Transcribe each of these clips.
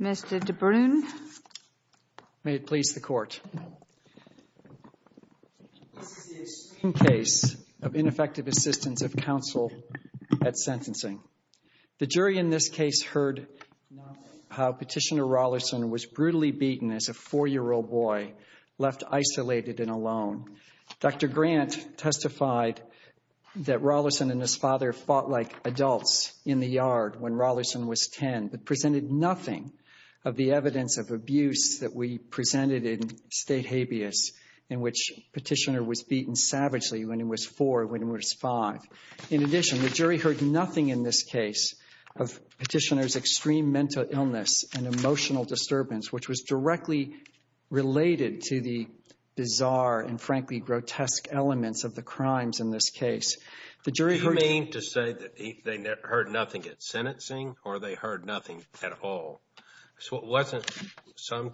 Mr. DeBrun, may it please the Court, this is the second case of ineffective assistance of counsel at sentencing. The jury in this case heard how Petitioner Raulerson was brutally beaten as a four-year-old boy, left isolated and alone. Dr. Grant testified that Raulerson and his father fought like adults in the yard when Raulerson was 10, but presented nothing of the evidence of abuse that we presented in State Habeas, in which Petitioner was beaten savagely when he was 4, when he was 5. In addition, the jury heard nothing in this case of Petitioner's extreme mental illness and emotional disturbance, which was directly related to the bizarre and, frankly, grotesque elements of the crimes in this case. The jury heard... You mean to say that they heard nothing at sentencing, or they heard nothing at all? So it wasn't some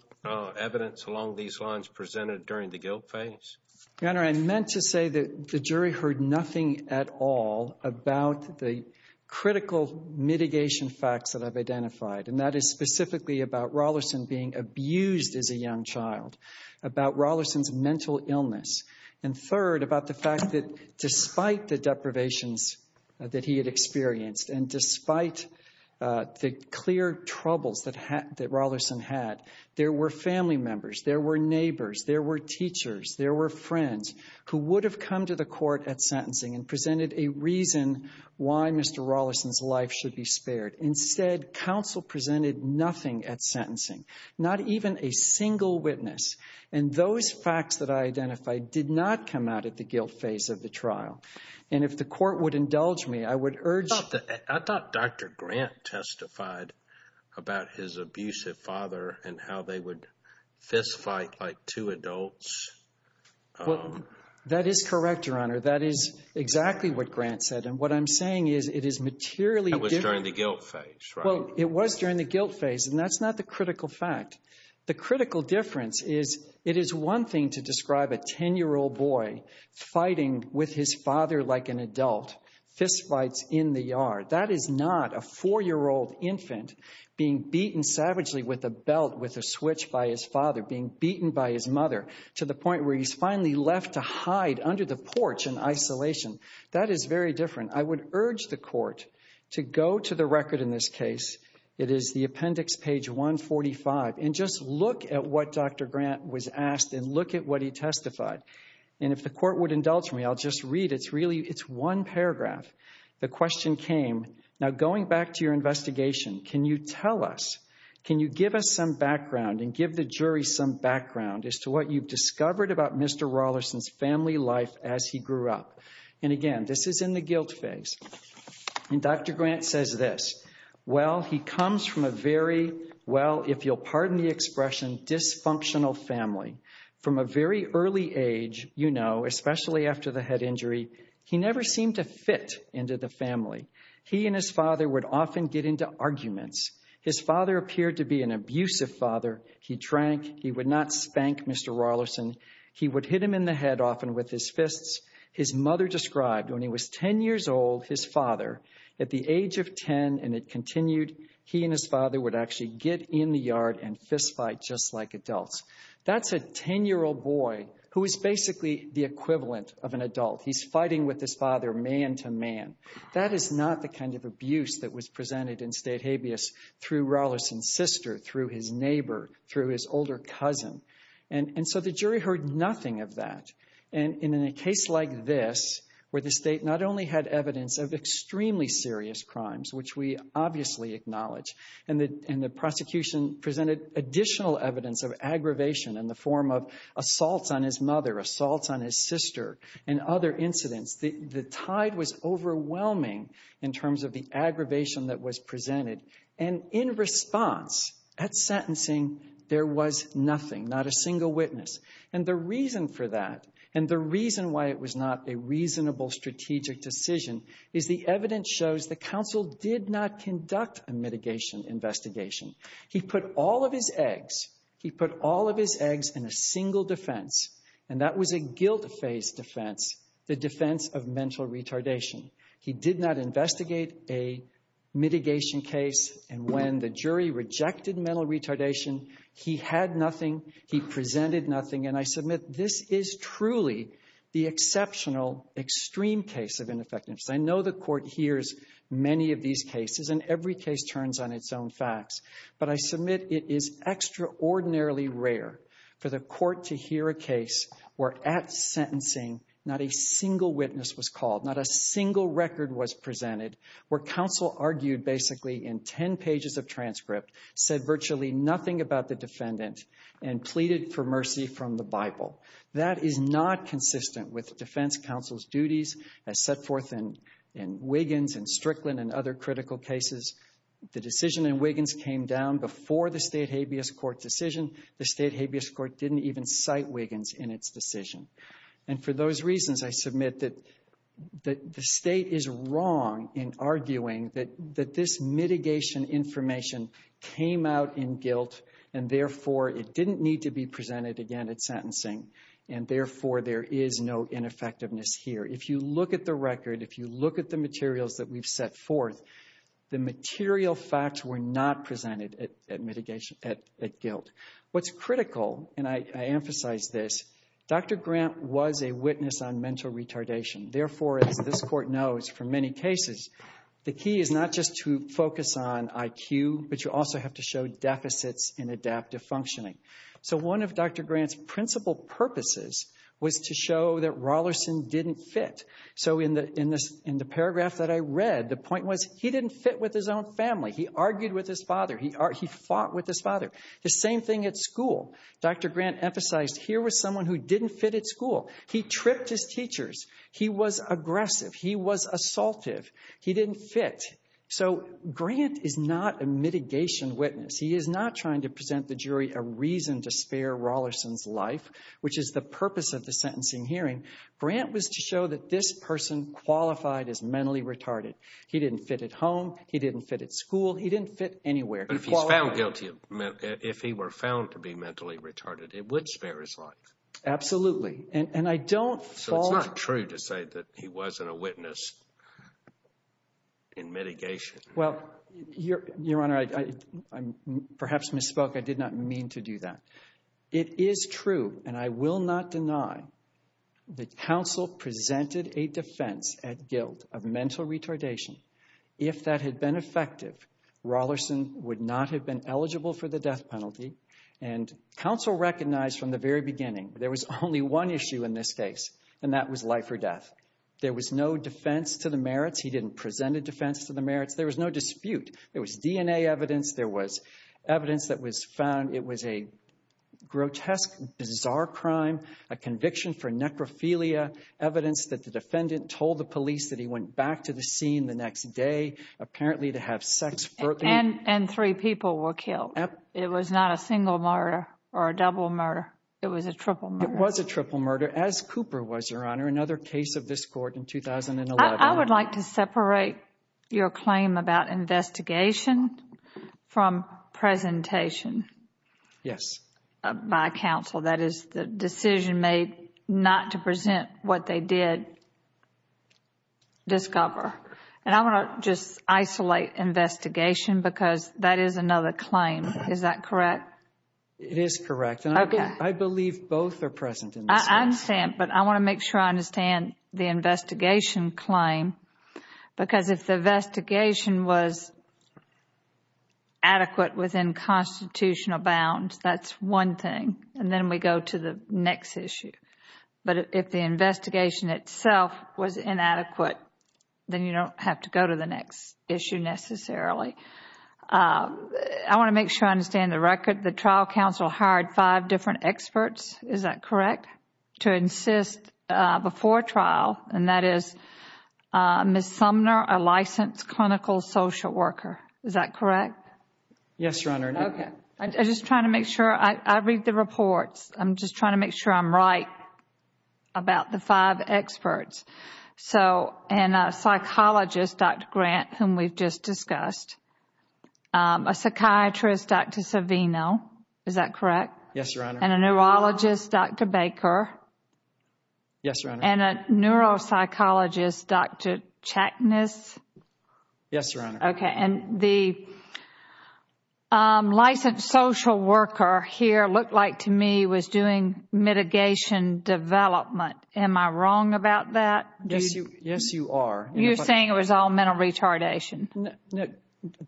evidence along these lines presented during the guilt phase? Your Honor, I meant to say that the jury heard nothing at all about the critical mitigation facts that I've identified, and that is specifically about Raulerson being abused as a young child, about Raulerson's mental illness, and third, about the fact that despite the deprivations that he had experienced and despite the clear troubles that Raulerson had, there were family or friends who would have come to the court at sentencing and presented a reason why Mr. Raulerson's life should be spared. Instead, counsel presented nothing at sentencing, not even a single witness, and those facts that I identified did not come out at the guilt phase of the trial. And if the court would indulge me, I would urge... I thought Dr. Grant testified about his abusive father and how they would fist fight like two adults. That is correct, Your Honor. That is exactly what Grant said. And what I'm saying is it is materially different. That was during the guilt phase, right? Well, it was during the guilt phase, and that's not the critical fact. The critical difference is it is one thing to describe a 10-year-old boy fighting with his father like an adult, fist fights in the yard. That is not a four-year-old infant being beaten savagely with a belt with a switch by his mother to the point where he's finally left to hide under the porch in isolation. That is very different. I would urge the court to go to the record in this case. It is the appendix, page 145, and just look at what Dr. Grant was asked and look at what he testified. And if the court would indulge me, I'll just read. It's really... It's one paragraph. The question came, now going back to your investigation, can you tell us, can you give us some background and give the jury some background as to what you've discovered about Mr. Rawlinson's family life as he grew up? And again, this is in the guilt phase. And Dr. Grant says this, well, he comes from a very, well, if you'll pardon the expression, dysfunctional family. From a very early age, you know, especially after the head injury, he never seemed to fit into the family. He and his father would often get into arguments. His father appeared to be an abusive father. He drank. He would not spank Mr. Rawlinson. He would hit him in the head often with his fists. His mother described when he was 10 years old, his father, at the age of 10 and it continued, he and his father would actually get in the yard and fistfight just like adults. That's a 10-year-old boy who is basically the equivalent of an adult. He's fighting with his father man to man. That is not the kind of abuse that was presented in state habeas through Rawlinson's sister, through his neighbor, through his older cousin. And so the jury heard nothing of that. And in a case like this, where the state not only had evidence of extremely serious crimes, which we obviously acknowledge, and the prosecution presented additional evidence of aggravation in the form of assaults on his mother, assaults on his sister, and other incidents, the tide was overwhelming in terms of the aggravation that was presented. And in response, at sentencing, there was nothing, not a single witness. And the reason for that, and the reason why it was not a reasonable strategic decision, is the evidence shows the counsel did not conduct a mitigation investigation. He put all of his eggs, he put all of his eggs in a single defense, and that was a guilt-faced defense, the defense of mental retardation. He did not investigate a mitigation case, and when the jury rejected mental retardation, he had nothing, he presented nothing, and I submit this is truly the exceptional extreme case of ineffectiveness. I know the court hears many of these cases, and every case turns on its own facts, but I submit it is extraordinarily rare for the court to hear a case where at sentencing not a single witness was called, not a single record was presented, where counsel argued basically in 10 pages of transcript, said virtually nothing about the defendant, and pleaded for mercy from the Bible. That is not consistent with defense counsel's duties as set forth in Wiggins and Strickland and other critical cases. The decision in Wiggins came down before the state habeas court decision. The state habeas court didn't even cite Wiggins in its decision. And for those reasons, I submit that the state is wrong in arguing that this mitigation information came out in guilt, and therefore it didn't need to be presented again at sentencing, and therefore there is no ineffectiveness here. If you look at the record, if you look at the materials that we've set forth, the material facts were not presented at guilt. What's critical, and I emphasize this, Dr. Grant was a witness on mental retardation. Therefore, as this court knows for many cases, the key is not just to focus on IQ, but you also have to show deficits in adaptive functioning. So one of Dr. Grant's principal purposes was to show that Rollerson didn't fit. So in the paragraph that I read, the point was he didn't fit with his own family. He argued with his father. He fought with his father. The same thing at school. Dr. Grant emphasized here was someone who didn't fit at school. He tripped his teachers. He was aggressive. He was assaultive. He didn't fit. So Grant is not a mitigation witness. He is not trying to present the jury a reason to spare Rollerson's life, which is the purpose of the sentencing hearing. Grant was to show that this person qualified as mentally retarded. He didn't fit at home. He didn't fit at school. He didn't fit anywhere. He qualified. But if he's found guilty, if he were found to be mentally retarded, it would spare his life. Absolutely. And I don't fall. So it's not true to say that he wasn't a witness in mitigation. Well, Your Honor, I perhaps misspoke. I did not mean to do that. It is true, and I will not deny that counsel presented a defense at guilt of mental retardation. If that had been effective, Rollerson would not have been eligible for the death penalty. And counsel recognized from the very beginning there was only one issue in this case, and that was life or death. There was no defense to the merits. He didn't present a defense to the merits. There was no dispute. There was DNA evidence. There was evidence that was found. It was a grotesque, bizarre crime, a conviction for necrophilia, evidence that the defendant told the police that he went back to the scene the next day, apparently to have sex. And three people were killed. It was not a single murder or a double murder. It was a triple murder. It was a triple murder, as Cooper was, Your Honor, another case of this court in 2011. I would like to separate your claim about investigation from presentation by counsel. That is, the decision made not to present what they did discover. And I want to just isolate investigation because that is another claim. Is that correct? It is correct, and I believe both are present in this case. I understand, but I want to make sure I understand the investigation claim because if the investigation was adequate within constitutional bounds, that is one thing, and then we go to the next issue. But if the investigation itself was inadequate, then you don't have to go to the next issue necessarily. I want to make sure I understand the record. The trial counsel hired five different experts. Is that correct? To insist before trial, and that is Ms. Sumner, a licensed clinical social worker. Is that correct? Yes, Your Honor. Okay. I am just trying to make sure. I read the reports. I am just trying to make sure I am right about the five experts. So a psychologist, Dr. Grant, whom we have just discussed, a psychiatrist, Dr. Savino. Is that correct? Yes, Your Honor. And a neurologist, Dr. Baker. Yes, Your Honor. And a neuropsychologist, Dr. Chackness. Yes, Your Honor. Okay. And the licensed social worker here looked like to me was doing mitigation development. Am I wrong about that? Yes, you are. You are saying it was all mental retardation.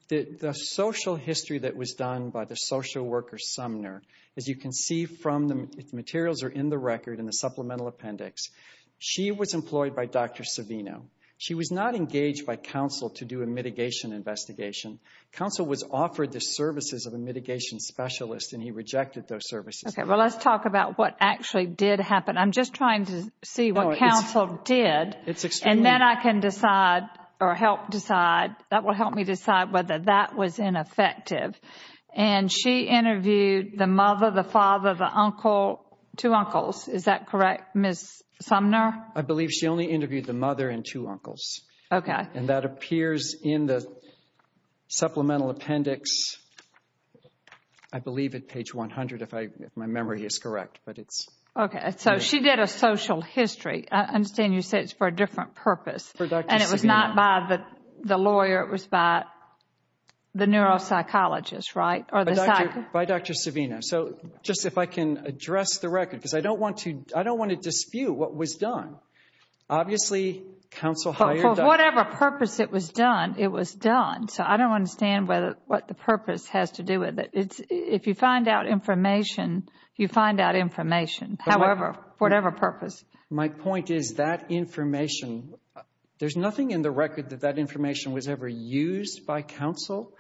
The social history that was done by the social worker Sumner, as you can see from the materials are in the record in the supplemental appendix, she was employed by Dr. Savino. She was not engaged by counsel to do a mitigation investigation. Counsel was offered the services of a mitigation specialist and he rejected those services. Okay. Well, let's talk about what actually did happen. I am just trying to see what counsel did. And then I can decide or help decide. That will help me decide whether that was ineffective. And she interviewed the mother, the father, the uncle, two uncles. Is that correct, Ms. Sumner? I believe she only interviewed the mother and two uncles. Okay. And that appears in the supplemental appendix, I believe at page 100, if my memory is correct, but it is. Okay. So she did a social history. I understand you said it is for a different purpose. For Dr. Savino. And it was not by the lawyer, it was by the neuropsychologist, right? Or the psychologist. By Dr. Savino. So just if I can address the record, because I don't want to, I don't want to dispute what was done. Obviously counsel hired Dr. Savino. For whatever purpose it was done, it was done. So I don't understand what the purpose has to do with it. If you find out information, you find out information, however, whatever purpose. My point is that information, there's nothing in the record that that information was ever used by counsel.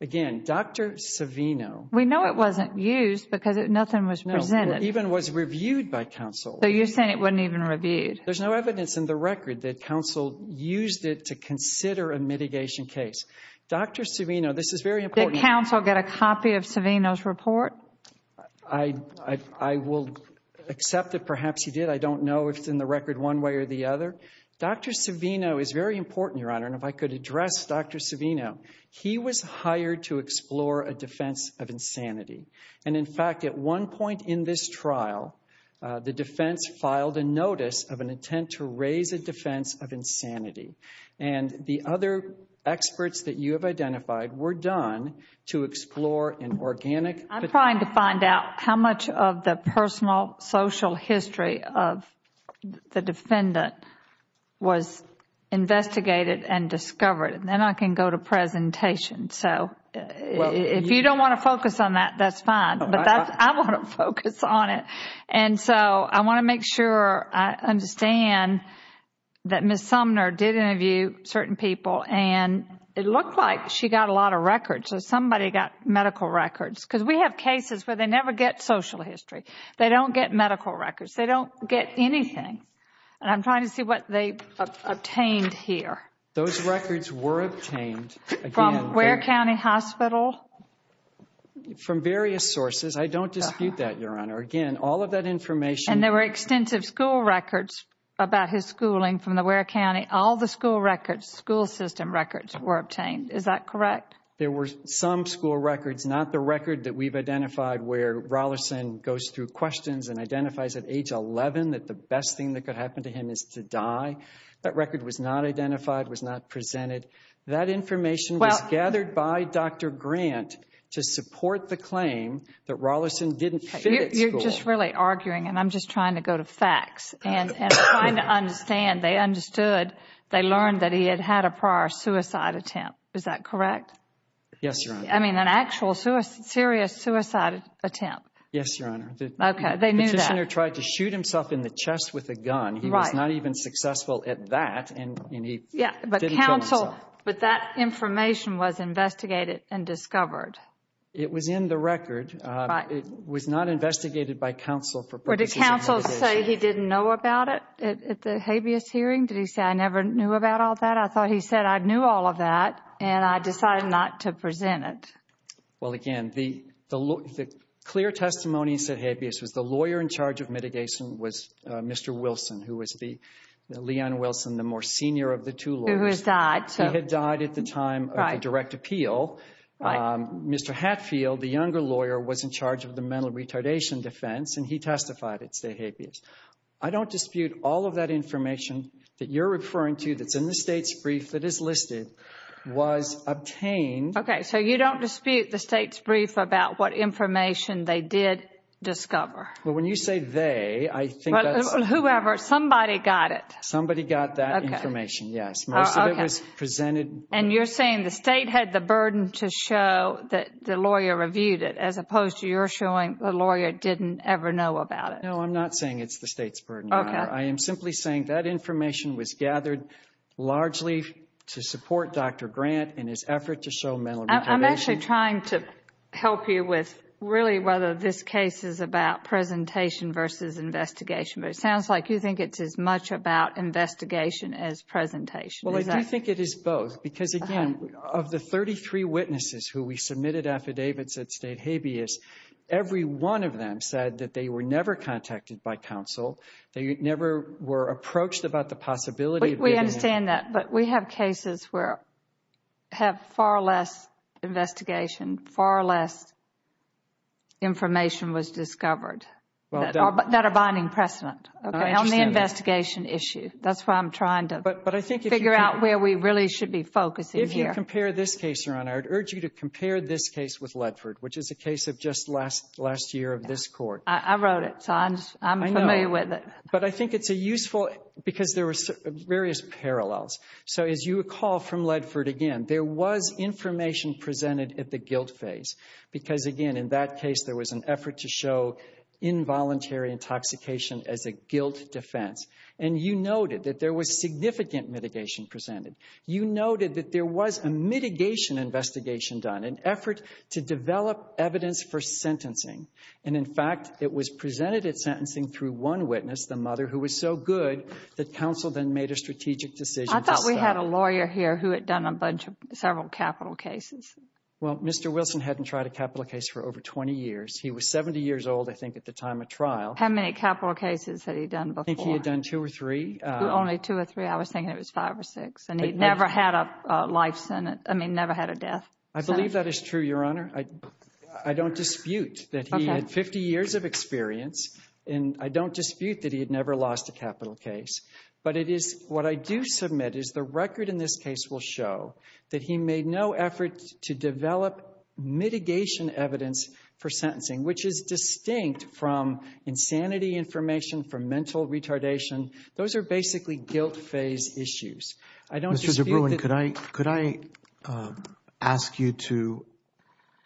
Again, Dr. Savino. We know it wasn't used because nothing was presented. Even was reviewed by counsel. So you're saying it wasn't even reviewed. There's no evidence in the record that counsel used it to consider a mitigation case. Dr. Savino, this is very important. Did counsel get a copy of Savino's report? I will accept that perhaps he did. I don't know if it's in the record one way or the other. Dr. Savino is very important, Your Honor, and if I could address Dr. Savino. He was hired to explore a defense of insanity. And in fact, at one point in this trial, the defense filed a notice of an intent to raise a defense of insanity. And the other experts that you have identified were done to explore an organic. I'm trying to find out how much of the personal social history of the defendant was investigated and discovered. And then I can go to presentation. So if you don't want to focus on that, that's fine. But I want to focus on it. And so I want to make sure I understand that Ms. Sumner did interview certain people. And it looked like she got a lot of records. Somebody got medical records. Because we have cases where they never get social history. They don't get medical records. They don't get anything. And I'm trying to see what they obtained here. Those records were obtained. From Ware County Hospital? From various sources. I don't dispute that, Your Honor. Again, all of that information. And there were extensive school records about his schooling from the Ware County. All the school records, school system records were obtained. Is that correct? There were some school records. Not the record that we've identified where Rollison goes through questions and identifies at age 11 that the best thing that could happen to him is to die. That record was not identified, was not presented. That information was gathered by Dr. Grant to support the claim that Rollison didn't fit at school. You're just really arguing. And I'm just trying to go to facts and trying to understand. They understood. They learned that he had had a prior suicide attempt. Is that correct? Yes, Your Honor. I mean, an actual serious suicide attempt. Yes, Your Honor. Okay. They knew that. The petitioner tried to shoot himself in the chest with a gun. Right. He was not even successful at that and he didn't kill himself. But that information was investigated and discovered. It was in the record. Right. It was not investigated by counsel for purposes of litigation. Did counsel say he didn't know about it at the habeas hearing? Did he say, I never knew about all that? I thought he said, I knew all of that and I decided not to present it. Well, again, the clear testimony said habeas was the lawyer in charge of mitigation was Mr. Wilson, who was the, Leon Wilson, the more senior of the two lawyers. Who had died. He had died at the time of the direct appeal. Mr. Hatfield, the younger lawyer, was in charge of the mental retardation defense and he testified it's the habeas. I don't dispute all of that information that you're referring to that's in the state's brief that is listed was obtained. Okay. So you don't dispute the state's brief about what information they did discover. Well, when you say they, I think that's. Whoever, somebody got it. Somebody got that information. Yes. Most of it was presented. And you're saying the state had the burden to show that the lawyer reviewed it as opposed to your showing the lawyer didn't ever know about it. No, I'm not saying it's the state's burden. Okay. I am simply saying that information was gathered largely to support Dr. Grant in his effort to show mental retardation. I'm actually trying to help you with really whether this case is about presentation versus investigation. But it sounds like you think it's as much about investigation as presentation. Well, I do think it is both because again, of the 33 witnesses who we submitted affidavits at State Habeas, every one of them said that they were never contacted by counsel. They never were approached about the possibility. We understand that. But we have cases where have far less investigation, far less information was discovered that are binding precedent. Okay. On the investigation issue. That's why I'm trying to figure out where we really should be focusing here. I would urge you to compare this case with Ledford, which is a case of just last year of this Court. I wrote it. So I'm familiar with it. But I think it's a useful, because there were various parallels. So as you recall from Ledford, again, there was information presented at the guilt phase because again, in that case, there was an effort to show involuntary intoxication as a guilt defense. And you noted that there was significant mitigation presented. You noted that there was a mitigation investigation done, an effort to develop evidence for sentencing. And in fact, it was presented at sentencing through one witness, the mother, who was so good that counsel then made a strategic decision to stop. I thought we had a lawyer here who had done a bunch of several capital cases. Well, Mr. Wilson hadn't tried a capital case for over 20 years. He was 70 years old, I think, at the time of trial. How many capital cases had he done before? I think he had done two or three. Only two or three. I was thinking it was five or six. And he never had a life sentence, I mean, never had a death sentence. I believe that is true, Your Honor. I don't dispute that he had 50 years of experience. And I don't dispute that he had never lost a capital case. But it is, what I do submit is the record in this case will show that he made no effort to develop mitigation evidence for sentencing, which is distinct from insanity information, from mental retardation. Those are basically guilt phase issues. I don't dispute that Mr. DeBruin, could I ask you to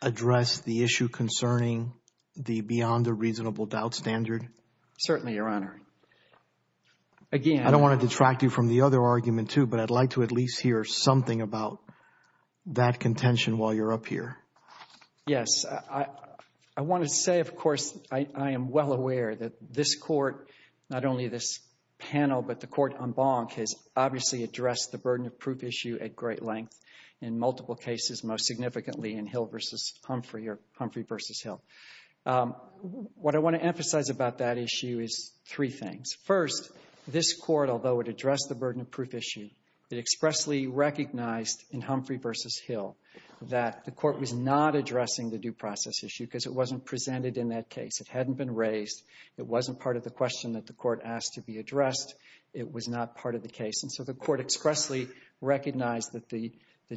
address the issue concerning the beyond a reasonable doubt standard? Certainly, Your Honor. Again, I don't want to detract you from the other argument, too. But I'd like to at least hear something about that contention while you're up here. Yes. I want to say, of course, I am well aware that this Court, not only this panel, but the Court en banc has obviously addressed the burden of proof issue at great length in multiple cases, most significantly in Hill v. Humphrey or Humphrey v. Hill. What I want to emphasize about that issue is three things. First, this Court, although it addressed the burden of proof issue, it expressly recognized in Humphrey v. Hill that the Court was not addressing the due process issue because it wasn't presented in that case. It hadn't been raised. It wasn't part of the question that the Court asked to be addressed. It was not part of the case. And so the Court expressly recognized that the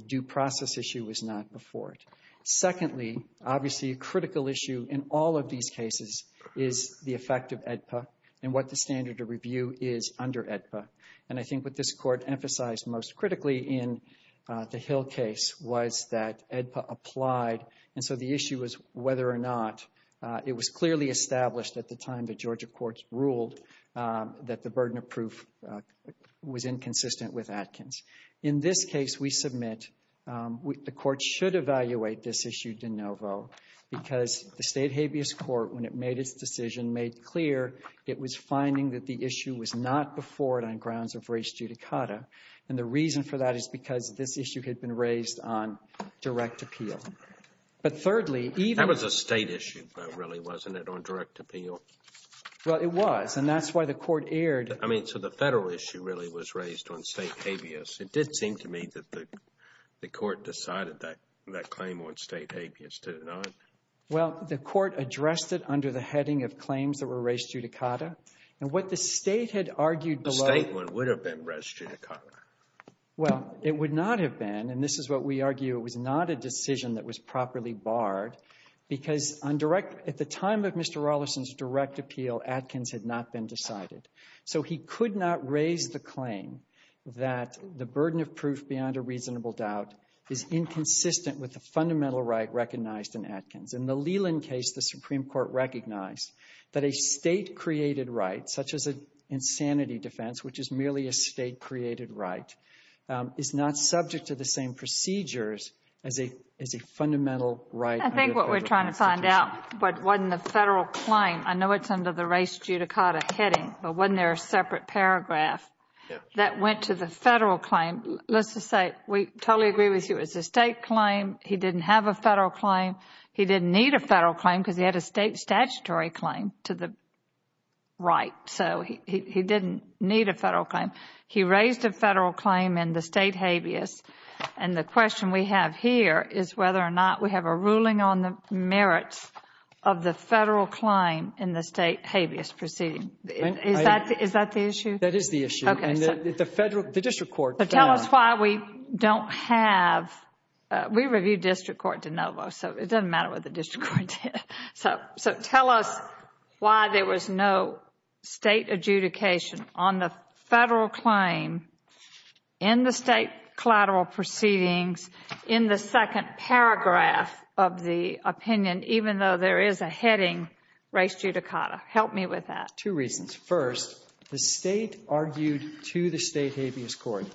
due process issue was not before it. Secondly, obviously a critical issue in all of these cases is the effect of AEDPA and what the standard of review is under AEDPA. And I think what this Court emphasized most critically in the Hill case was that AEDPA applied, and so the issue was whether or not it was clearly established at the time that Georgia courts ruled that the burden of proof was inconsistent with Atkins. In this case, we submit the Court should evaluate this issue de novo because the State Habeas Court, when it made its decision, made clear it was finding that the issue was not before it on grounds of res judicata, and the reason for that is because this issue had been raised on direct appeal. But thirdly, even... That was a State issue, though, really, wasn't it, on direct appeal? Well, it was, and that's why the Court erred. I mean, so the Federal issue really was raised on State habeas. It did seem to me that the Court decided that claim on State habeas, did it not? Well, the Court addressed it under the heading of claims that were res judicata, and what the State had argued below... The State one would have been res judicata. Well, it would not have been, and this is what we argue, it was not a decision that was properly barred because on direct — at the time of Mr. Rolison's direct appeal, Atkins had not been decided. So he could not raise the claim that the burden of proof beyond a reasonable doubt is inconsistent with the fundamental right recognized in Atkins. In the Leland case, the Supreme Court recognized that a State-created right, such as an insanity defense, which is merely a State-created right, is not subject to the same procedures as a fundamental right under a Federal Constitution. I think what we're trying to find out, but wasn't the Federal claim, I know it's under the res judicata heading, but wasn't there a separate paragraph that went to the Federal claim? Let's just say, we totally agree with you, it was a State claim. He didn't have a Federal claim. He didn't need a Federal claim because he had a State statutory claim to the right. So he didn't need a Federal claim. He raised a Federal claim in the State habeas, and the question we have here is whether or not we have a ruling on the merits of the Federal claim in the State habeas proceeding. Is that the issue? That is the issue. Okay. The Federal — the district court — It doesn't matter what the district court did. So tell us why there was no State adjudication on the Federal claim in the State collateral proceedings in the second paragraph of the opinion, even though there is a heading, res judicata. Help me with that. Two reasons. First, the State argued to the State habeas court,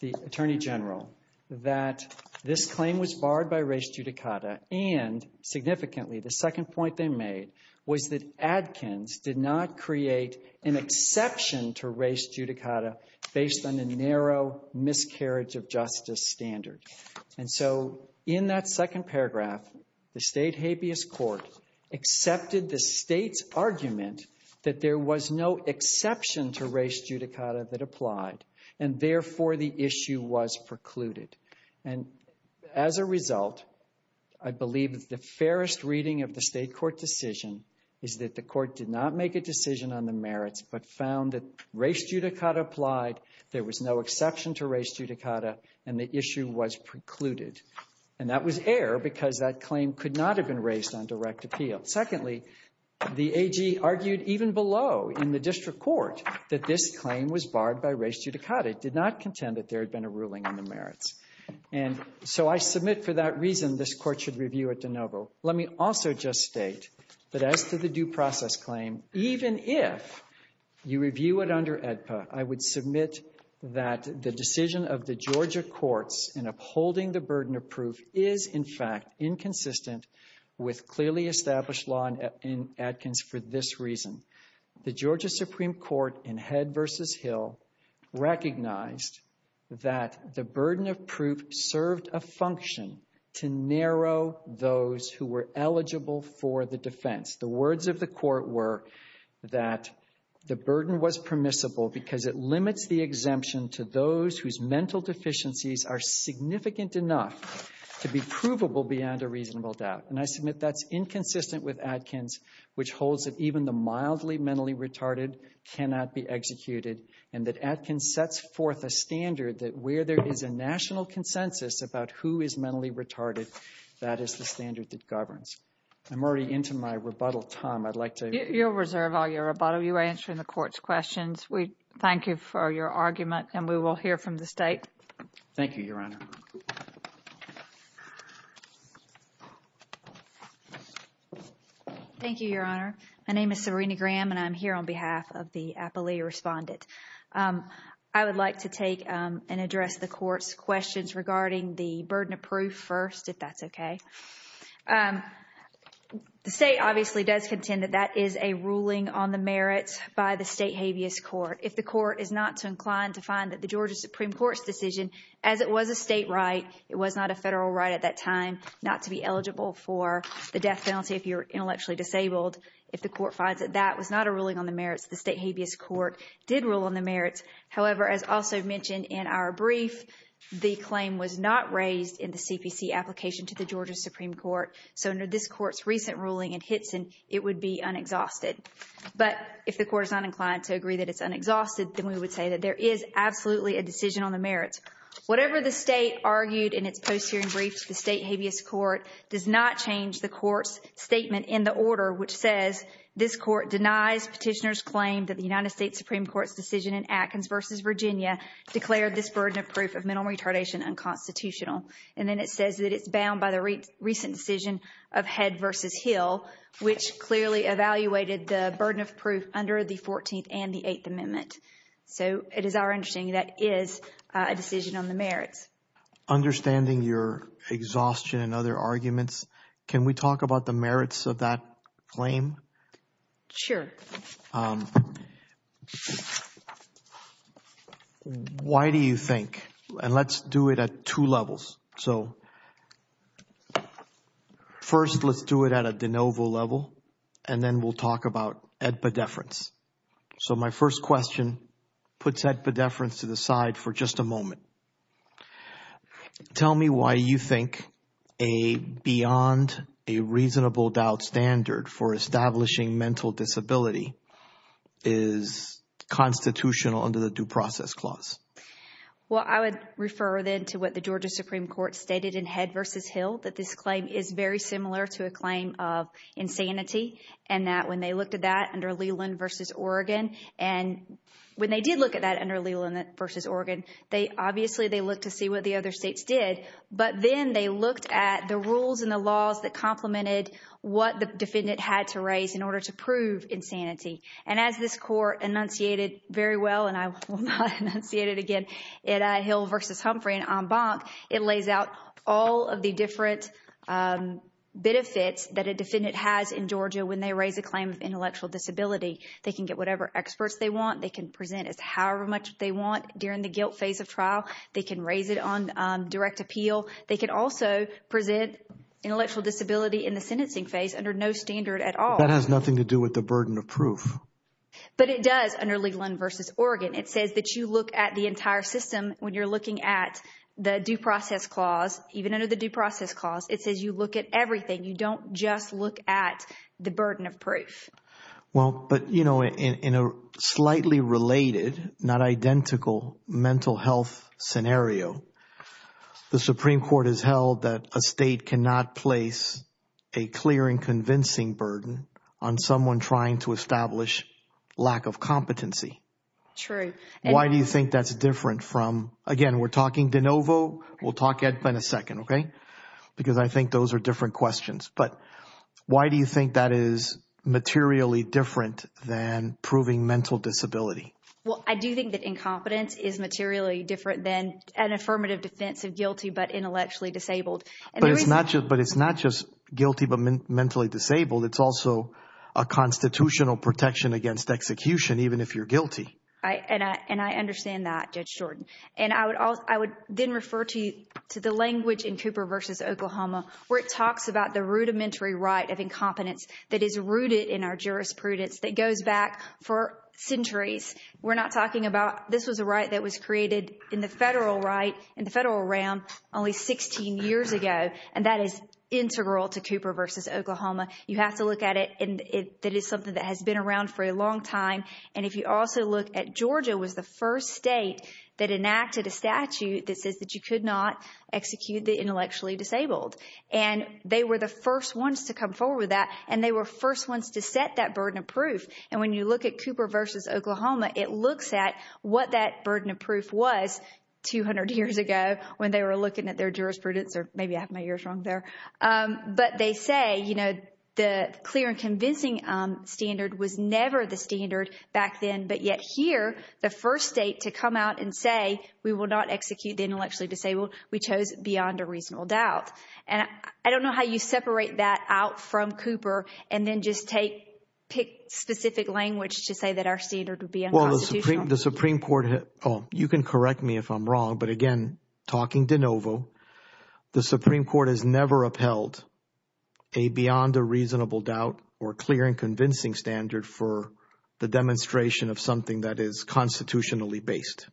the Attorney General, that this claim was barred by res judicata, and significantly, the second point they made was that Adkins did not create an exception to res judicata based on the narrow miscarriage of justice standard. And so in that second paragraph, the State habeas court accepted the State's argument that there was no exception to res judicata that applied, and therefore the issue was precluded. And as a result, I believe that the fairest reading of the State court decision is that the court did not make a decision on the merits, but found that res judicata applied, there was no exception to res judicata, and the issue was precluded. And that was air because that claim could not have been raised on direct appeal. Secondly, the AG argued even below in the district court that this claim was barred by res judicata. It did not contend that there had been a ruling on the merits. And so I submit for that reason this court should review it de novo. Let me also just state that as to the due process claim, even if you review it under AEDPA, I would submit that the decision of the Georgia courts in upholding the burden of proof is, in fact, inconsistent with clearly established law in Adkins for this reason. The Georgia Supreme Court in Head v. Hill recognized that the burden of proof served a function to narrow those who were eligible for the defense. The words of the court were that the burden was permissible because it limits the exemption to those whose mental deficiencies are significant enough to be provable beyond a reasonable doubt. And I submit that's inconsistent with Adkins, which holds that even the mildly mentally retarded cannot be executed, and that Adkins sets forth a standard that where there is a national consensus about who is mentally retarded, that is the standard that governs. I'm already into my rebuttal time. I'd like to — You'll reserve all your rebuttal. You are answering the court's questions. We thank you for your argument, and we will hear from the State. Thank you, Your Honor. Thank you, Your Honor. My name is Serena Graham, and I'm here on behalf of the appellee respondent. I would like to take and address the court's questions regarding the burden of proof first, if that's okay. The State obviously does contend that that is a ruling on the merits by the State habeas court. If the court is not inclined to find that the Georgia Supreme Court's decision, as it was a state right, it was not a federal right at that time not to be eligible for the death penalty if you're intellectually disabled, if the court finds that that was not a ruling on the merits, the State habeas court did rule on the merits. However, as also mentioned in our brief, the claim was not raised in the CPC application to the Georgia Supreme Court, so under this court's recent ruling in Hitson, it would be unexhausted. But if the court is not inclined to agree that it's unexhausted, then we would say that there is absolutely a decision on the merits. Whatever the State argued in its post-hearing brief to the State habeas court does not change the court's statement in the order which says this court denies petitioner's claim that the United States Supreme Court's decision in Atkins v. Virginia declared this burden of proof of mental retardation unconstitutional. And then it says that it's bound by the recent decision of Head v. Hill, which clearly evaluated the burden of proof under the 14th and the 8th Amendment. So it is our understanding that is a decision on the merits. Understanding your exhaustion and other arguments, can we talk about the merits of that claim? Sure. Why do you think, and let's do it at two levels. So first, let's do it at a de novo level, and then we'll talk about epidefference. So my first question puts epidefference to the side for just a moment. Tell me why you think a beyond a reasonable doubt standard for establishing mental disability is constitutional under the Due Process Clause. Well, I would refer then to what the Georgia Supreme Court stated in Head v. Hill, that this claim is very similar to a claim of insanity, and that when they looked at that under Leland v. Oregon, and when they did look at that under Leland v. Oregon, obviously they looked to see what the other states did, but then they looked at the rules and the laws that complemented what the defendant had to raise in order to prove insanity. And as this court enunciated very well, and I will not enunciate it again, at Hill v. Humphrey and en banc, it lays out all of the different benefits that a defendant has in They can get whatever experts they want. They can present as however much they want during the guilt phase of trial. They can raise it on direct appeal. They can also present intellectual disability in the sentencing phase under no standard at all. That has nothing to do with the burden of proof. But it does under Leland v. Oregon. It says that you look at the entire system when you're looking at the Due Process Clause. Even under the Due Process Clause, it says you look at everything. You don't just look at the burden of proof. Well, but, you know, in a slightly related, not identical mental health scenario, the Supreme Court has held that a state cannot place a clear and convincing burden on someone trying to establish lack of competency. True. And why do you think that's different from, again, we're talking De Novo, we'll talk Ed Penn a second, okay, because I think those are different questions. But why do you think that is materially different than proving mental disability? Well, I do think that incompetence is materially different than an affirmative defense of guilty but intellectually disabled. But it's not just guilty but mentally disabled. It's also a constitutional protection against execution, even if you're guilty. And I understand that, Judge Jordan. And I would then refer to the language in Cooper v. Oklahoma where it talks about the rudimentary right of incompetence that is rooted in our jurisprudence that goes back for centuries. We're not talking about, this was a right that was created in the federal right, in the federal realm, only 16 years ago. And that is integral to Cooper v. Oklahoma. You have to look at it and that is something that has been around for a long time. And if you also look at, Georgia was the first state that enacted a statute that says that you could not execute the intellectually disabled. And they were the first ones to come forward with that. And they were first ones to set that burden of proof. And when you look at Cooper v. Oklahoma, it looks at what that burden of proof was 200 years ago when they were looking at their jurisprudence, or maybe I have my years wrong there. But they say, you know, the clear and convincing standard was never the standard back then. But yet here, the first state to come out and say, we will not execute the intellectually disabled, we chose beyond a reasonable doubt. And I don't know how you separate that out from Cooper and then just take, pick specific language to say that our standard would be unconstitutional. The Supreme Court, you can correct me if I'm wrong, but again, talking de novo, the Supreme Court has never upheld a beyond a reasonable doubt or clear and convincing standard for the demonstration of something that is constitutionally based.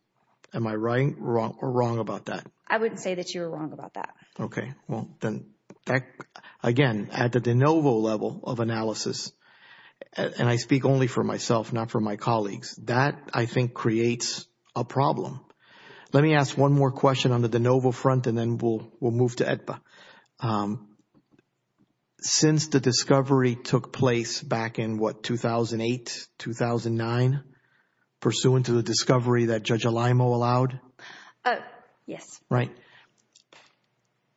Am I right or wrong about that? I wouldn't say that you're wrong about that. Okay. Well, then, again, at the de novo level of analysis, and I speak only for myself, not for my colleagues, that I think creates a problem. Let me ask one more question on the de novo front and then we'll move to AEDPA. Since the discovery took place back in what, 2008, 2009, pursuant to the discovery that Judge Alaimo allowed? Yes. Right.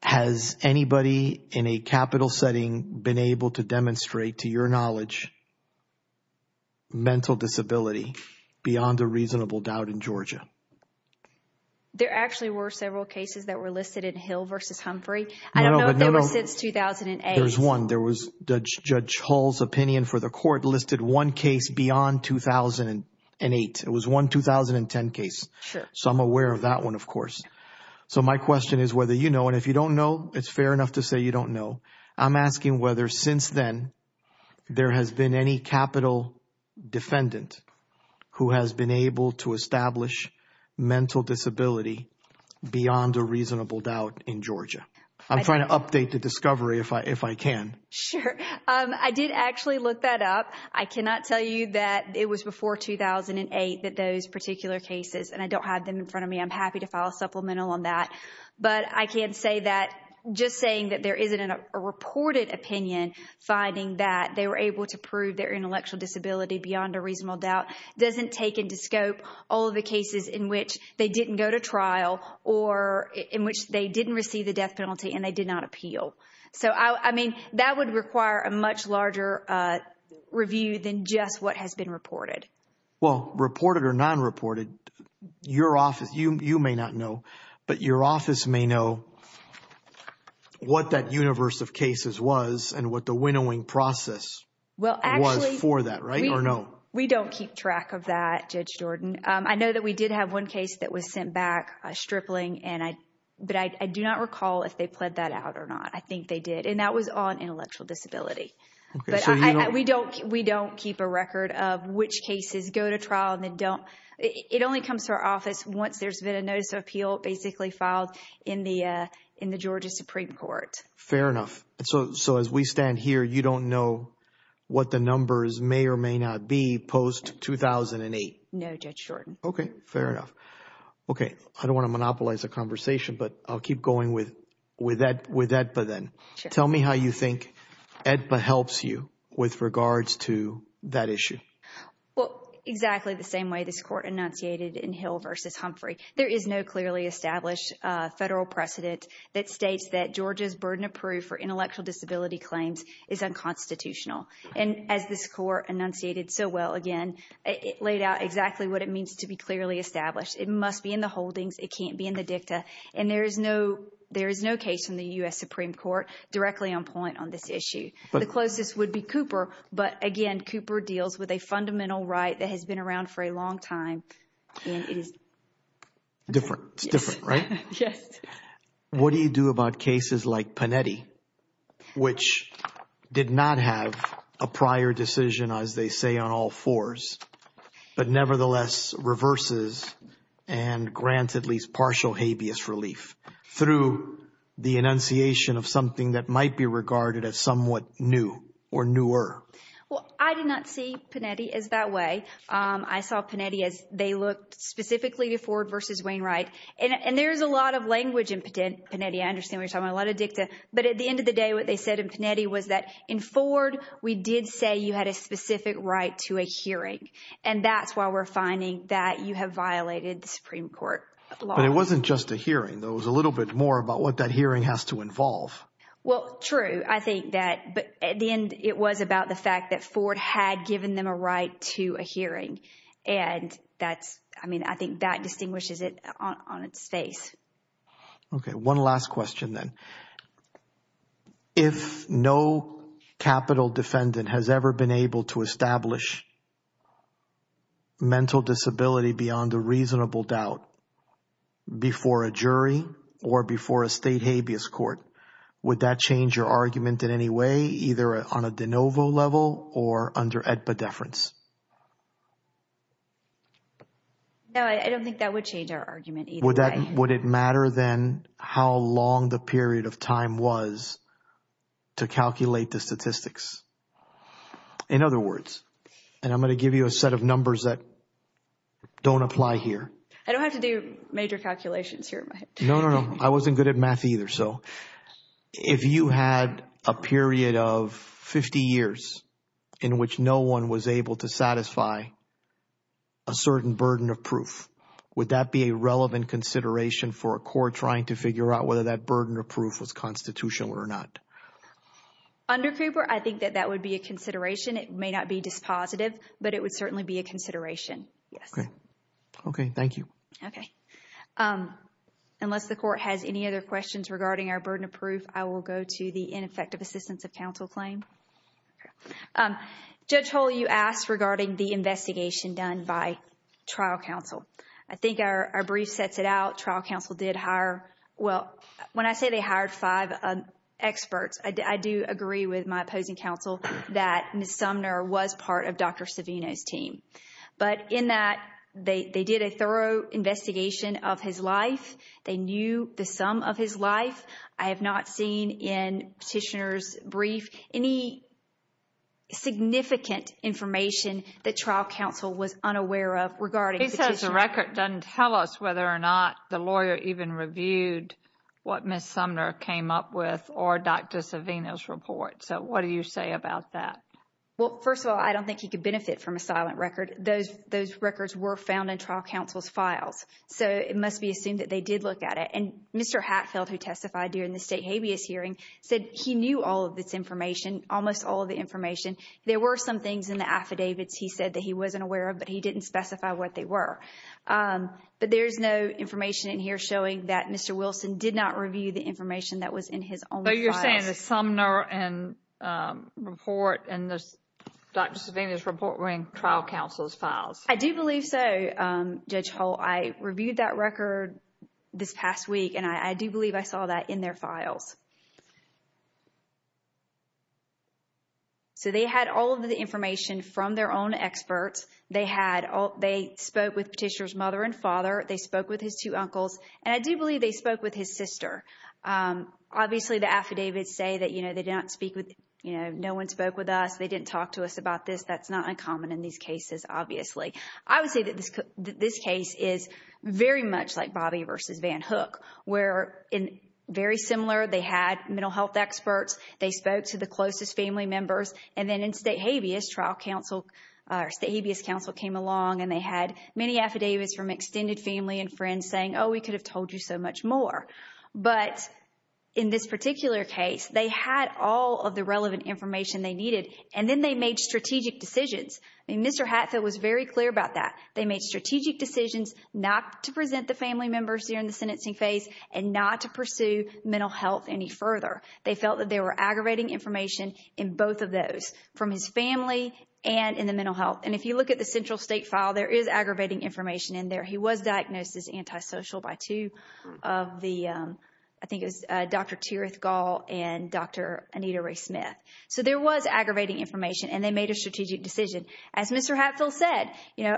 Has anybody in a capital setting been able to demonstrate to your knowledge mental disability beyond a reasonable doubt in Georgia? There actually were several cases that were listed in Hill versus Humphrey. I don't know if they were since 2008. There was one. There was Judge Hall's opinion for the court listed one case beyond 2008. It was one 2010 case. So I'm aware of that one, of course. So my question is whether you know, and if you don't know, it's fair enough to say you don't know. I'm asking whether since then there has been any capital defendant who has been able to establish mental disability beyond a reasonable doubt in Georgia. I'm trying to update the discovery if I can. Sure. I did actually look that up. I cannot tell you that it was before 2008 that those particular cases, and I don't have them in front of me. I'm happy to file a supplemental on that. But I can say that just saying that there isn't a reported opinion finding that they were able to prove their intellectual disability beyond a reasonable doubt doesn't take into scope all of the cases in which they didn't go to trial or in which they didn't receive the death penalty and they did not appeal. So, I mean, that would require a much larger review than just what has been reported. Well, reported or non-reported, your office, you may not know, but your office may know what that universe of cases was and what the winnowing process was for that, right or no? We don't keep track of that, Judge Jordan. I know that we did have one case that was sent back, a stripling, but I do not recall if they pled that out or not. I think they did. And that was on intellectual disability. We don't keep a record of which cases go to trial and then don't. It only comes to our office once there's been a notice of appeal basically filed in the Georgia Supreme Court. Fair enough. So, as we stand here, you don't know what the numbers may or may not be post-2008? No, Judge Jordan. Okay. Fair enough. Okay. I don't want to monopolize the conversation, but I'll keep going with that, but then tell me how you think EDPA helps you with regards to that issue. Well, exactly the same way this court enunciated in Hill versus Humphrey. There is no clearly established federal precedent that states that Georgia's burden of proof for intellectual disability claims is unconstitutional. And as this court enunciated so well, again, it laid out exactly what it means to be clearly established. It must be in the holdings. It can't be in the dicta. And there is no case in the U.S. Supreme Court directly on point on this issue. The closest would be Cooper, but again, Cooper deals with a fundamental right that has been around for a long time and it is- Different. It's different, right? Yes. What do you do about cases like Panetti, which did not have a prior decision as they say on all fours, but nevertheless reverses and grants at least partial habeas relief through the enunciation of something that might be regarded as somewhat new or newer? Well, I did not see Panetti as that way. I saw Panetti as they looked specifically to Ford versus Wainwright. And there's a lot of language in Panetti. I understand we're talking a lot of dicta, but at the end of the day, what they said in Panetti was that in Ford, we did say you had a specific right to a hearing. And that's why we're finding that you have violated the Supreme Court law. But it wasn't just a hearing, there was a little bit more about what that hearing has to involve. Well, true. I think that, but at the end, it was about the fact that Ford had given them a right to a hearing. And that's, I mean, I think that distinguishes it on its face. Okay. One last question then. If no capital defendant has ever been able to establish mental disability beyond a reasonable doubt before a jury or before a state habeas court, would that change your argument in any way, either on a de novo level or under AEDPA deference? No, I don't think that would change our argument either way. Would it matter then how long the period of time was to calculate the statistics? In other words, and I'm going to give you a set of numbers that don't apply here. I don't have to do major calculations here. No, no, no. I wasn't good at math either. So if you had a period of 50 years in which no one was able to satisfy a certain burden of proof, would that be a relevant consideration for a court trying to figure out whether that burden of proof was constitutional or not? Under Cooper, I think that that would be a consideration. It may not be dispositive, but it would certainly be a consideration. Yes. Okay. Okay. Thank you. Okay. Unless the court has any other questions regarding our burden of proof, I will go to the ineffective assistance of counsel claim. Judge Hull, you asked regarding the investigation done by trial counsel. I think our brief sets it out. Trial counsel did hire, well, when I say they hired five experts, I do agree with my opposing counsel that Ms. Sumner was part of Dr. Savino's team. But in that, they did a thorough investigation of his life. They knew the sum of his life. I have not seen in petitioner's brief any significant information that trial counsel was unaware of regarding petitioner's... He says the record doesn't tell us whether or not the lawyer even reviewed what Ms. Sumner came up with or Dr. Savino's report. So what do you say about that? Well, first of all, I don't think he could benefit from a silent record. Those records were found in trial counsel's files. So it must be assumed that they did look at it. And Mr. Hatfield, who testified during the state habeas hearing, said he knew all of this information, almost all of the information. There were some things in the affidavits he said that he wasn't aware of, but he didn't specify what they were. But there's no information in here showing that Mr. Wilson did not review the information that was in his own files. So you're saying that Sumner and report and Dr. Savino's report were in trial counsel's files? I do believe so, Judge Hull. I reviewed that record this past week, and I do believe I saw that in their files. So they had all of the information from their own experts. They spoke with Petitioner's mother and father. They spoke with his two uncles. And I do believe they spoke with his sister. Obviously the affidavits say that, you know, they didn't speak with, you know, no one spoke with us. They didn't talk to us about this. That's not uncommon in these cases, obviously. I would say that this case is very much like Bobby versus Van Hook, where in very similar, they had mental health experts. They spoke to the closest family members. And then in State Habeas, trial counsel, State Habeas counsel came along, and they had many affidavits from extended family and friends saying, oh, we could have told you so much more. But in this particular case, they had all of the relevant information they needed. And then they made strategic decisions. I mean, Mr. Hatfield was very clear about that. They made strategic decisions not to present the family members during the sentencing phase and not to pursue mental health any further. They felt that they were aggravating information in both of those, from his family and in the mental health. And if you look at the central state file, there is aggravating information in there. He was diagnosed as antisocial by two of the, I think it was Dr. Tirith Gall and Dr. Anita Ray-Smith. So there was aggravating information, and they made a strategic decision. As Mr. Hatfield said, you know,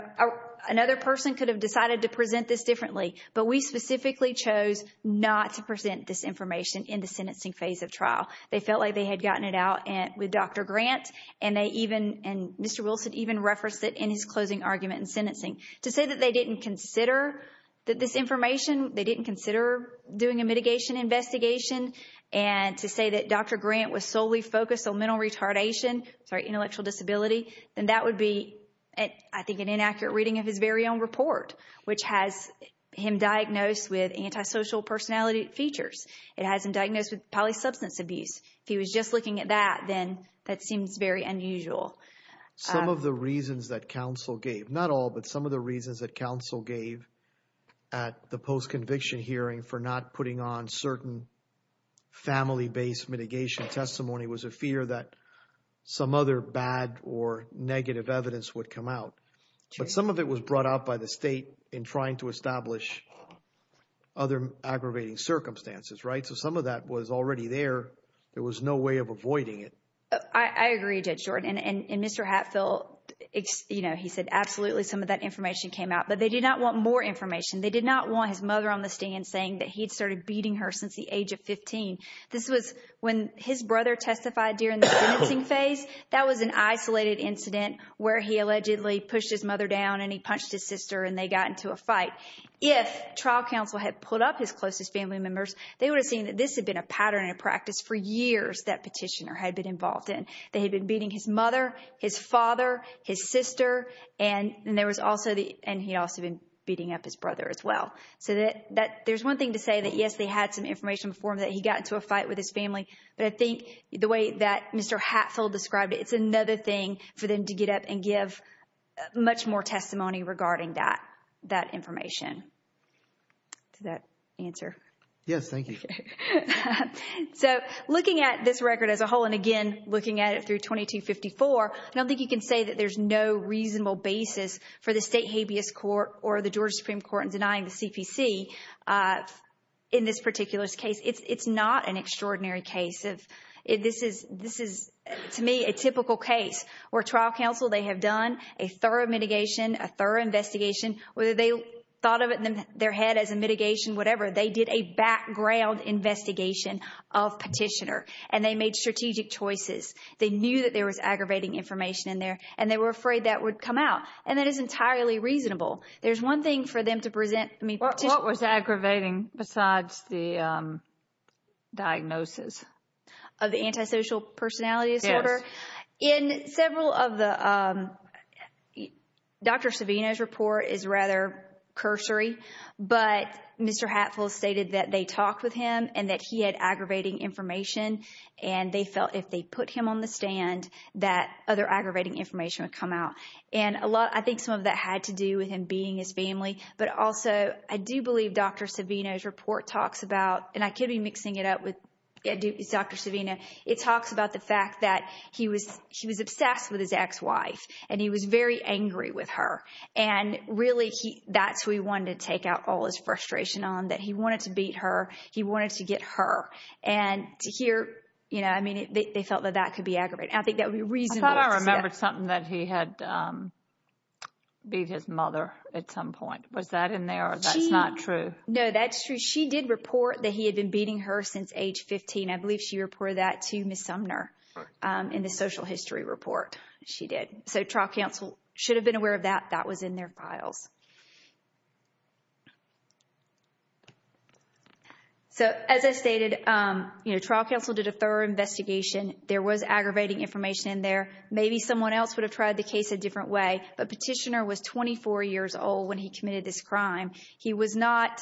another person could have decided to present this differently, but we specifically chose not to present this information in the sentencing phase of trial. They felt like they had gotten it out with Dr. Grant, and they even, and Mr. Wilson even referenced it in his closing argument in sentencing. To say that they didn't consider this information, they didn't consider doing a mitigation investigation, and to say that Dr. Grant was solely focused on mental retardation, sorry, intellectual disability, then that would be, I think, an inaccurate reading of his very own report, which has him diagnosed with antisocial personality features. It has him diagnosed with polysubstance abuse. If he was just looking at that, then that seems very unusual. Some of the reasons that counsel gave, not all, but some of the reasons that counsel gave at the post-conviction hearing for not putting on certain family-based mitigation testimony was a fear that some other bad or negative evidence would come out. But some of it was brought out by the state in trying to establish other aggravating circumstances, right? So some of that was already there. There was no way of avoiding it. I agree, Judge Jordan, and Mr. Hatfield, you know, he said absolutely some of that information came out, but they did not want more information. They did not want his mother on the stand saying that he'd started beating her since the age of 15. This was when his brother testified during the sentencing phase. That was an isolated incident where he allegedly pushed his mother down and he punched his sister and they got into a fight. If trial counsel had put up his closest family members, they would have seen that this had been a pattern and a practice for years that petitioner had been involved in. They had been beating his mother, his father, his sister, and he'd also been beating up his brother as well. So there's one thing to say that, yes, they had some information before him that he got into a fight with his family, but I think the way that Mr. Hatfield described it, it's another thing for them to get up and give much more testimony regarding that information. Does that answer? Yes, thank you. So looking at this record as a whole, and again, looking at it through 2254, I don't think you can say that there's no reasonable basis for the state habeas court or the Georgia Supreme Court in denying the CPC in this particular case. It's not an extraordinary case. This is, to me, a typical case where trial counsel, they have done a thorough mitigation, a thorough investigation, whether they thought of it in their head as a mitigation, whatever, they did a background investigation of Petitioner, and they made strategic choices. They knew that there was aggravating information in there, and they were afraid that would come out. And that is entirely reasonable. There's one thing for them to present, I mean, Petitioner- What was aggravating besides the diagnosis? Of the antisocial personality disorder? Yes. In several of the, Dr. Savino's report is rather cursory, but Mr. Hatful stated that they talked with him and that he had aggravating information, and they felt if they put him on the stand, that other aggravating information would come out. And I think some of that had to do with him being his family, but also, I do believe Dr. Savino's report talks about, and I could be mixing it up with Dr. Savino, it talks about the fact that he was obsessed with his ex-wife, and he was very angry with her. And really, that's who he wanted to take out all his frustration on, that he wanted to beat her, he wanted to get her. And here, you know, I mean, they felt that that could be aggravating. I think that would be reasonable to say. I thought I remembered something that he had beat his mother at some point. Was that in there, or that's not true? No, that's true. She did report that he had been beating her since age 15. I believe she reported that to Ms. Sumner in the social history report. She did. So, trial counsel should have been aware of that. That was in their files. So, as I stated, you know, trial counsel did a thorough investigation. There was aggravating information in there. Maybe someone else would have tried the case a different way, but Petitioner was 24 years old when he committed this crime. He was not,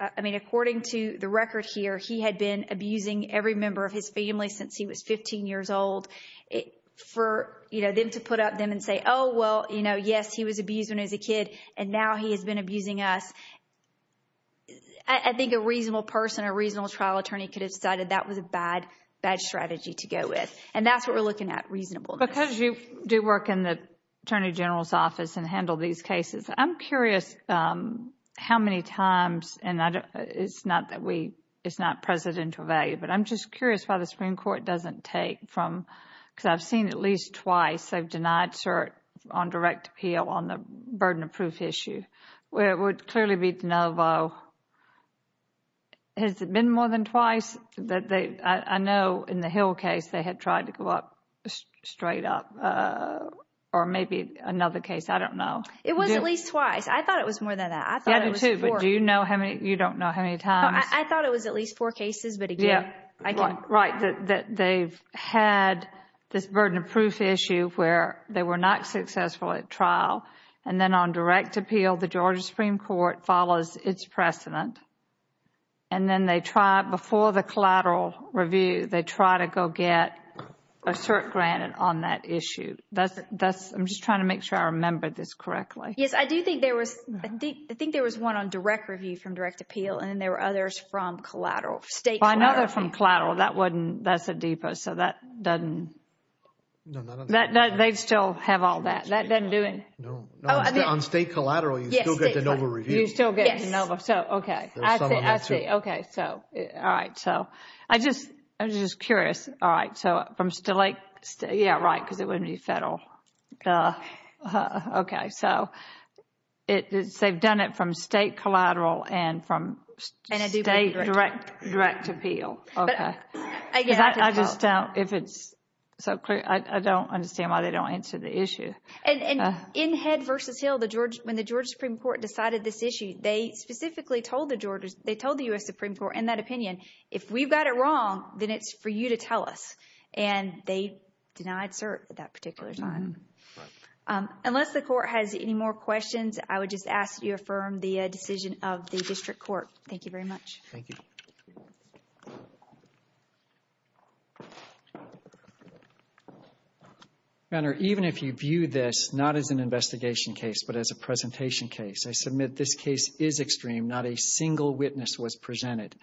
I mean, according to the record here, he had been abusing every member of his family since he was 15 years old. For them to put up them and say, oh, well, you know, yes, he was abused when he was a kid, and now he has been abusing us, I think a reasonable person, a reasonable trial attorney could have decided that was a bad, bad strategy to go with. And that's what we're looking at, reasonableness. Because you do work in the Attorney General's office and handle these cases, I'm curious how many times, and it's not that we, it's not presidential value, but I'm just curious why the Supreme Court doesn't take from, because I've seen at least twice they've denied cert on direct appeal on the burden of proof issue, where it would clearly be de novo. Has it been more than twice that they, I know in the Hill case they had tried to go up, straight up, or maybe another case, I don't know. It was at least twice. I thought it was more than that. I thought it was four. Yeah, me too. But do you know how many, you don't know how many times? I thought it was at least four cases, but again, I don't. Right. That they've had this burden of proof issue where they were not successful at trial. And then on direct appeal, the Georgia Supreme Court follows its precedent. And then they try, before the collateral review, they try to go get a cert granted on that issue. I'm just trying to make sure I remembered this correctly. Yes, I do think there was one on direct review from direct appeal, and then there were others from collateral. State collateral. Another from collateral. That's a deeper, so that doesn't, they still have all that. That doesn't do anything. No. On state collateral, you still get de novo reviews. You still get de novo. Yes. Okay. I see. I see. Okay. So, all right. So, I'm just curious. All right. So, from, yeah, right, because it wouldn't be federal. Okay. So, they've done it from state collateral and from state direct appeal. Okay. I just don't, if it's so clear, I don't understand why they don't answer the issue. And in Head v. Hill, when the Georgia Supreme Court decided this issue, they specifically told the U.S. Supreme Court in that opinion, if we've got it wrong, then it's for you to tell us. And they denied cert at that particular time. Right. Unless the Court has any more questions, I would just ask that you affirm the decision of the District Court. Thank you very much. Thank you. Your Honor, even if you view this not as an investigation case, but as a presentation case, I submit this case is extreme. Not a single witness was presented.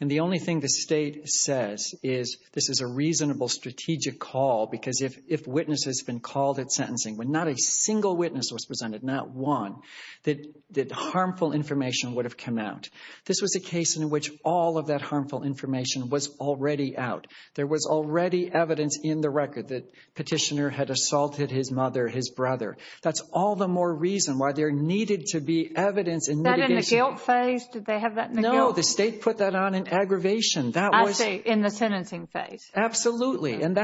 And the only thing the state says is this is a reasonable strategic call, because if witnesses have been called at sentencing, when not a single witness was presented, not one, that harmful information would have come out. This was a case in which all of that harmful information was already out. There was already evidence in the record that Petitioner had assaulted his mother, his brother. That's all the more reason why there needed to be evidence in litigation. Was that in the guilt phase? Did they have that in the guilt phase? No. The state put that on in aggravation. I see. In the sentencing phase. Absolutely. And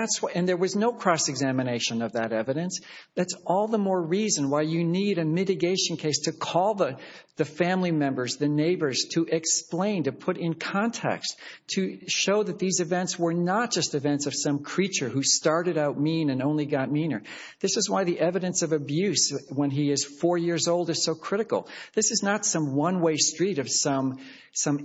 there was no cross-examination of that evidence. That's all the more reason why you need a mitigation case to call the family members, the neighbors, to explain, to put in context, to show that these events were not just events of some creature who started out mean and only got meaner. This is why the evidence of abuse when he is four years old is so critical. This is not some one-way street of some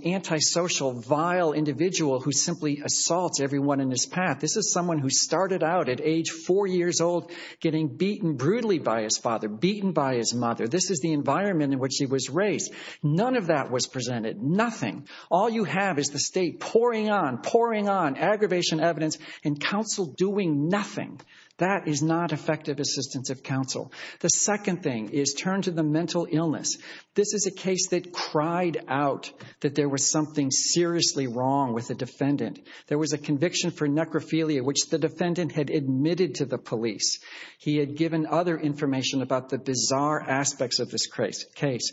antisocial, vile individual who simply assaults everyone in his path. This is someone who started out at age four years old getting beaten brutally by his father, beaten by his mother. This is the environment in which he was raised. None of that was presented. Nothing. All you have is the state pouring on, pouring on, aggravation evidence, and counsel doing nothing. That is not effective assistance of counsel. The second thing is turn to the mental illness. This is a case that cried out that there was something seriously wrong with the defendant. There was a conviction for necrophilia, which the defendant had admitted to the police. He had given other information about the bizarre aspects of this case.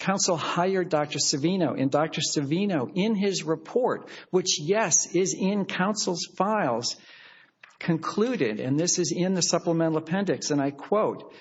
Counsel hired Dr. Savino, and Dr. Savino, in his report, which, yes, is in counsel's concluded, and this is in the supplemental appendix, and I quote,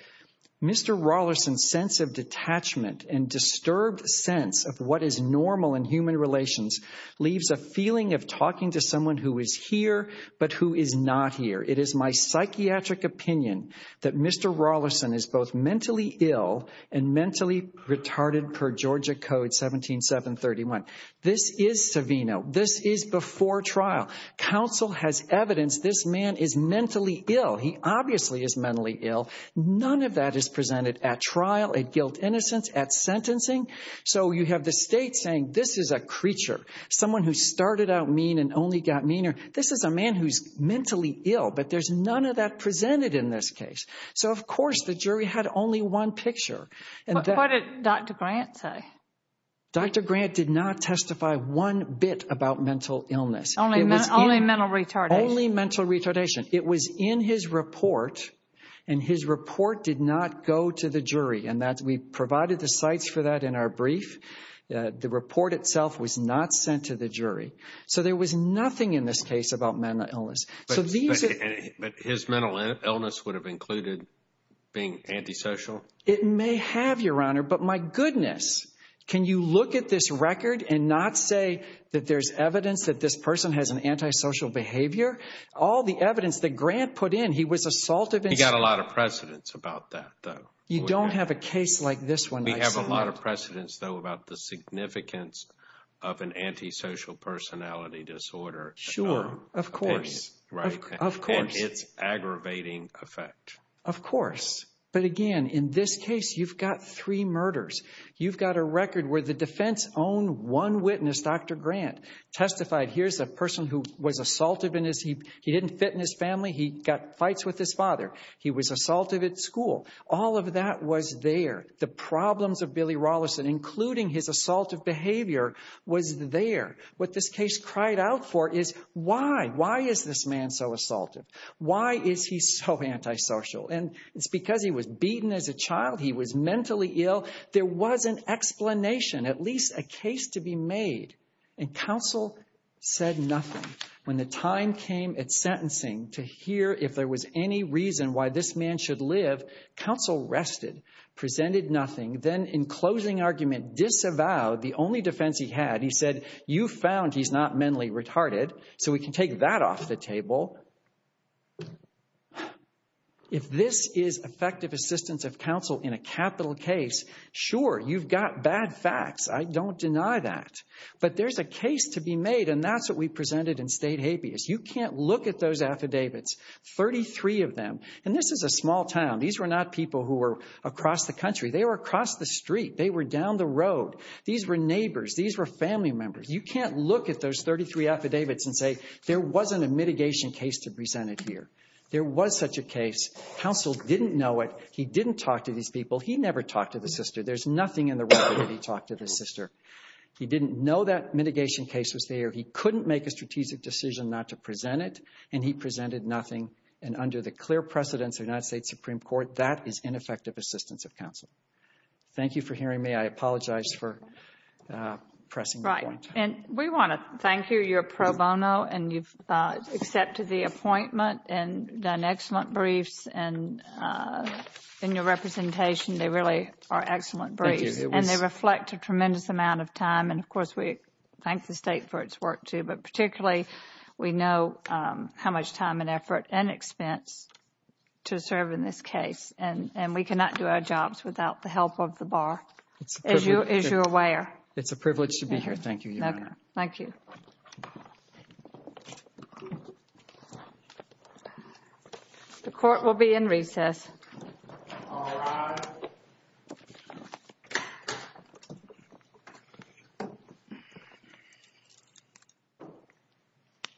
Mr. Rolison's sense of detachment and disturbed sense of what is normal in human relations leaves a feeling of talking to someone who is here but who is not here. It is my psychiatric opinion that Mr. Rolison is both mentally ill and mentally retarded per Georgia Code 17731. This is Savino. This is before trial. Counsel has evidence this man is mentally ill. He obviously is mentally ill. None of that is presented at trial, at guilt innocence, at sentencing. So you have the state saying this is a creature, someone who started out mean and only got meaner. This is a man who's mentally ill, but there's none of that presented in this case. So of course the jury had only one picture. What did Dr. Grant say? Dr. Grant did not testify one bit about mental illness. Only mental retardation. Only mental retardation. It was in his report, and his report did not go to the jury, and we provided the sites for that in our brief. The report itself was not sent to the jury. So there was nothing in this case about mental illness. But his mental illness would have included being antisocial? It may have, Your Honor, but my goodness, can you look at this record and not say that there's evidence that this person has an antisocial behavior? All the evidence that Grant put in, he was assaulted. He got a lot of precedence about that, though. You don't have a case like this one. We have a lot of precedence, though, about the significance of an antisocial personality disorder. Sure. Of course. Right. Of course. And its aggravating effect. Of course. But again, in this case, you've got three murders. You've got a record where the defense's own one witness, Dr. Grant, testified, here's a person who was assaulted, he didn't fit in his family, he got fights with his father. He was assaulted at school. All of that was there. The problems of Billy Rawlinson, including his assaultive behavior, was there. What this case cried out for is, why? Why is this man so assaultive? Why is he so antisocial? And it's because he was beaten as a child, he was mentally ill. There was an explanation, at least a case to be made, and counsel said nothing. When the time came at sentencing to hear if there was any reason why this man should live, counsel rested, presented nothing, then in closing argument disavowed the only defense he had. He said, you found he's not mentally retarded, so we can take that off the table. If this is effective assistance of counsel in a capital case, sure, you've got bad facts, I don't deny that. But there's a case to be made, and that's what we presented in State Habeas. You can't look at those affidavits, 33 of them, and this is a small town. These were not people who were across the country. They were across the street, they were down the road. These were neighbors, these were family members. You can't look at those 33 affidavits and say there wasn't a mitigation case to present it here. There was such a case. Counsel didn't know it. He didn't talk to these people. He never talked to the sister. There's nothing in the record that he talked to the sister. He didn't know that mitigation case was there. He couldn't make a strategic decision not to present it, and he presented nothing. And under the clear precedents of the United States Supreme Court, that is ineffective assistance of counsel. Thank you for hearing me. I apologize for pressing the point. We want to thank you. You're pro bono, and you've accepted the appointment and done excellent briefs, and in your representation, they really are excellent briefs, and they reflect a tremendous amount of time, and of course, we thank the State for its work, too, but particularly, we know how much time and effort and expense to serve in this case, and we cannot do our jobs without the help of the Bar, as you're aware. It's a privilege to be here. Thank you, Your Honor. Thank you. The court will be in recess.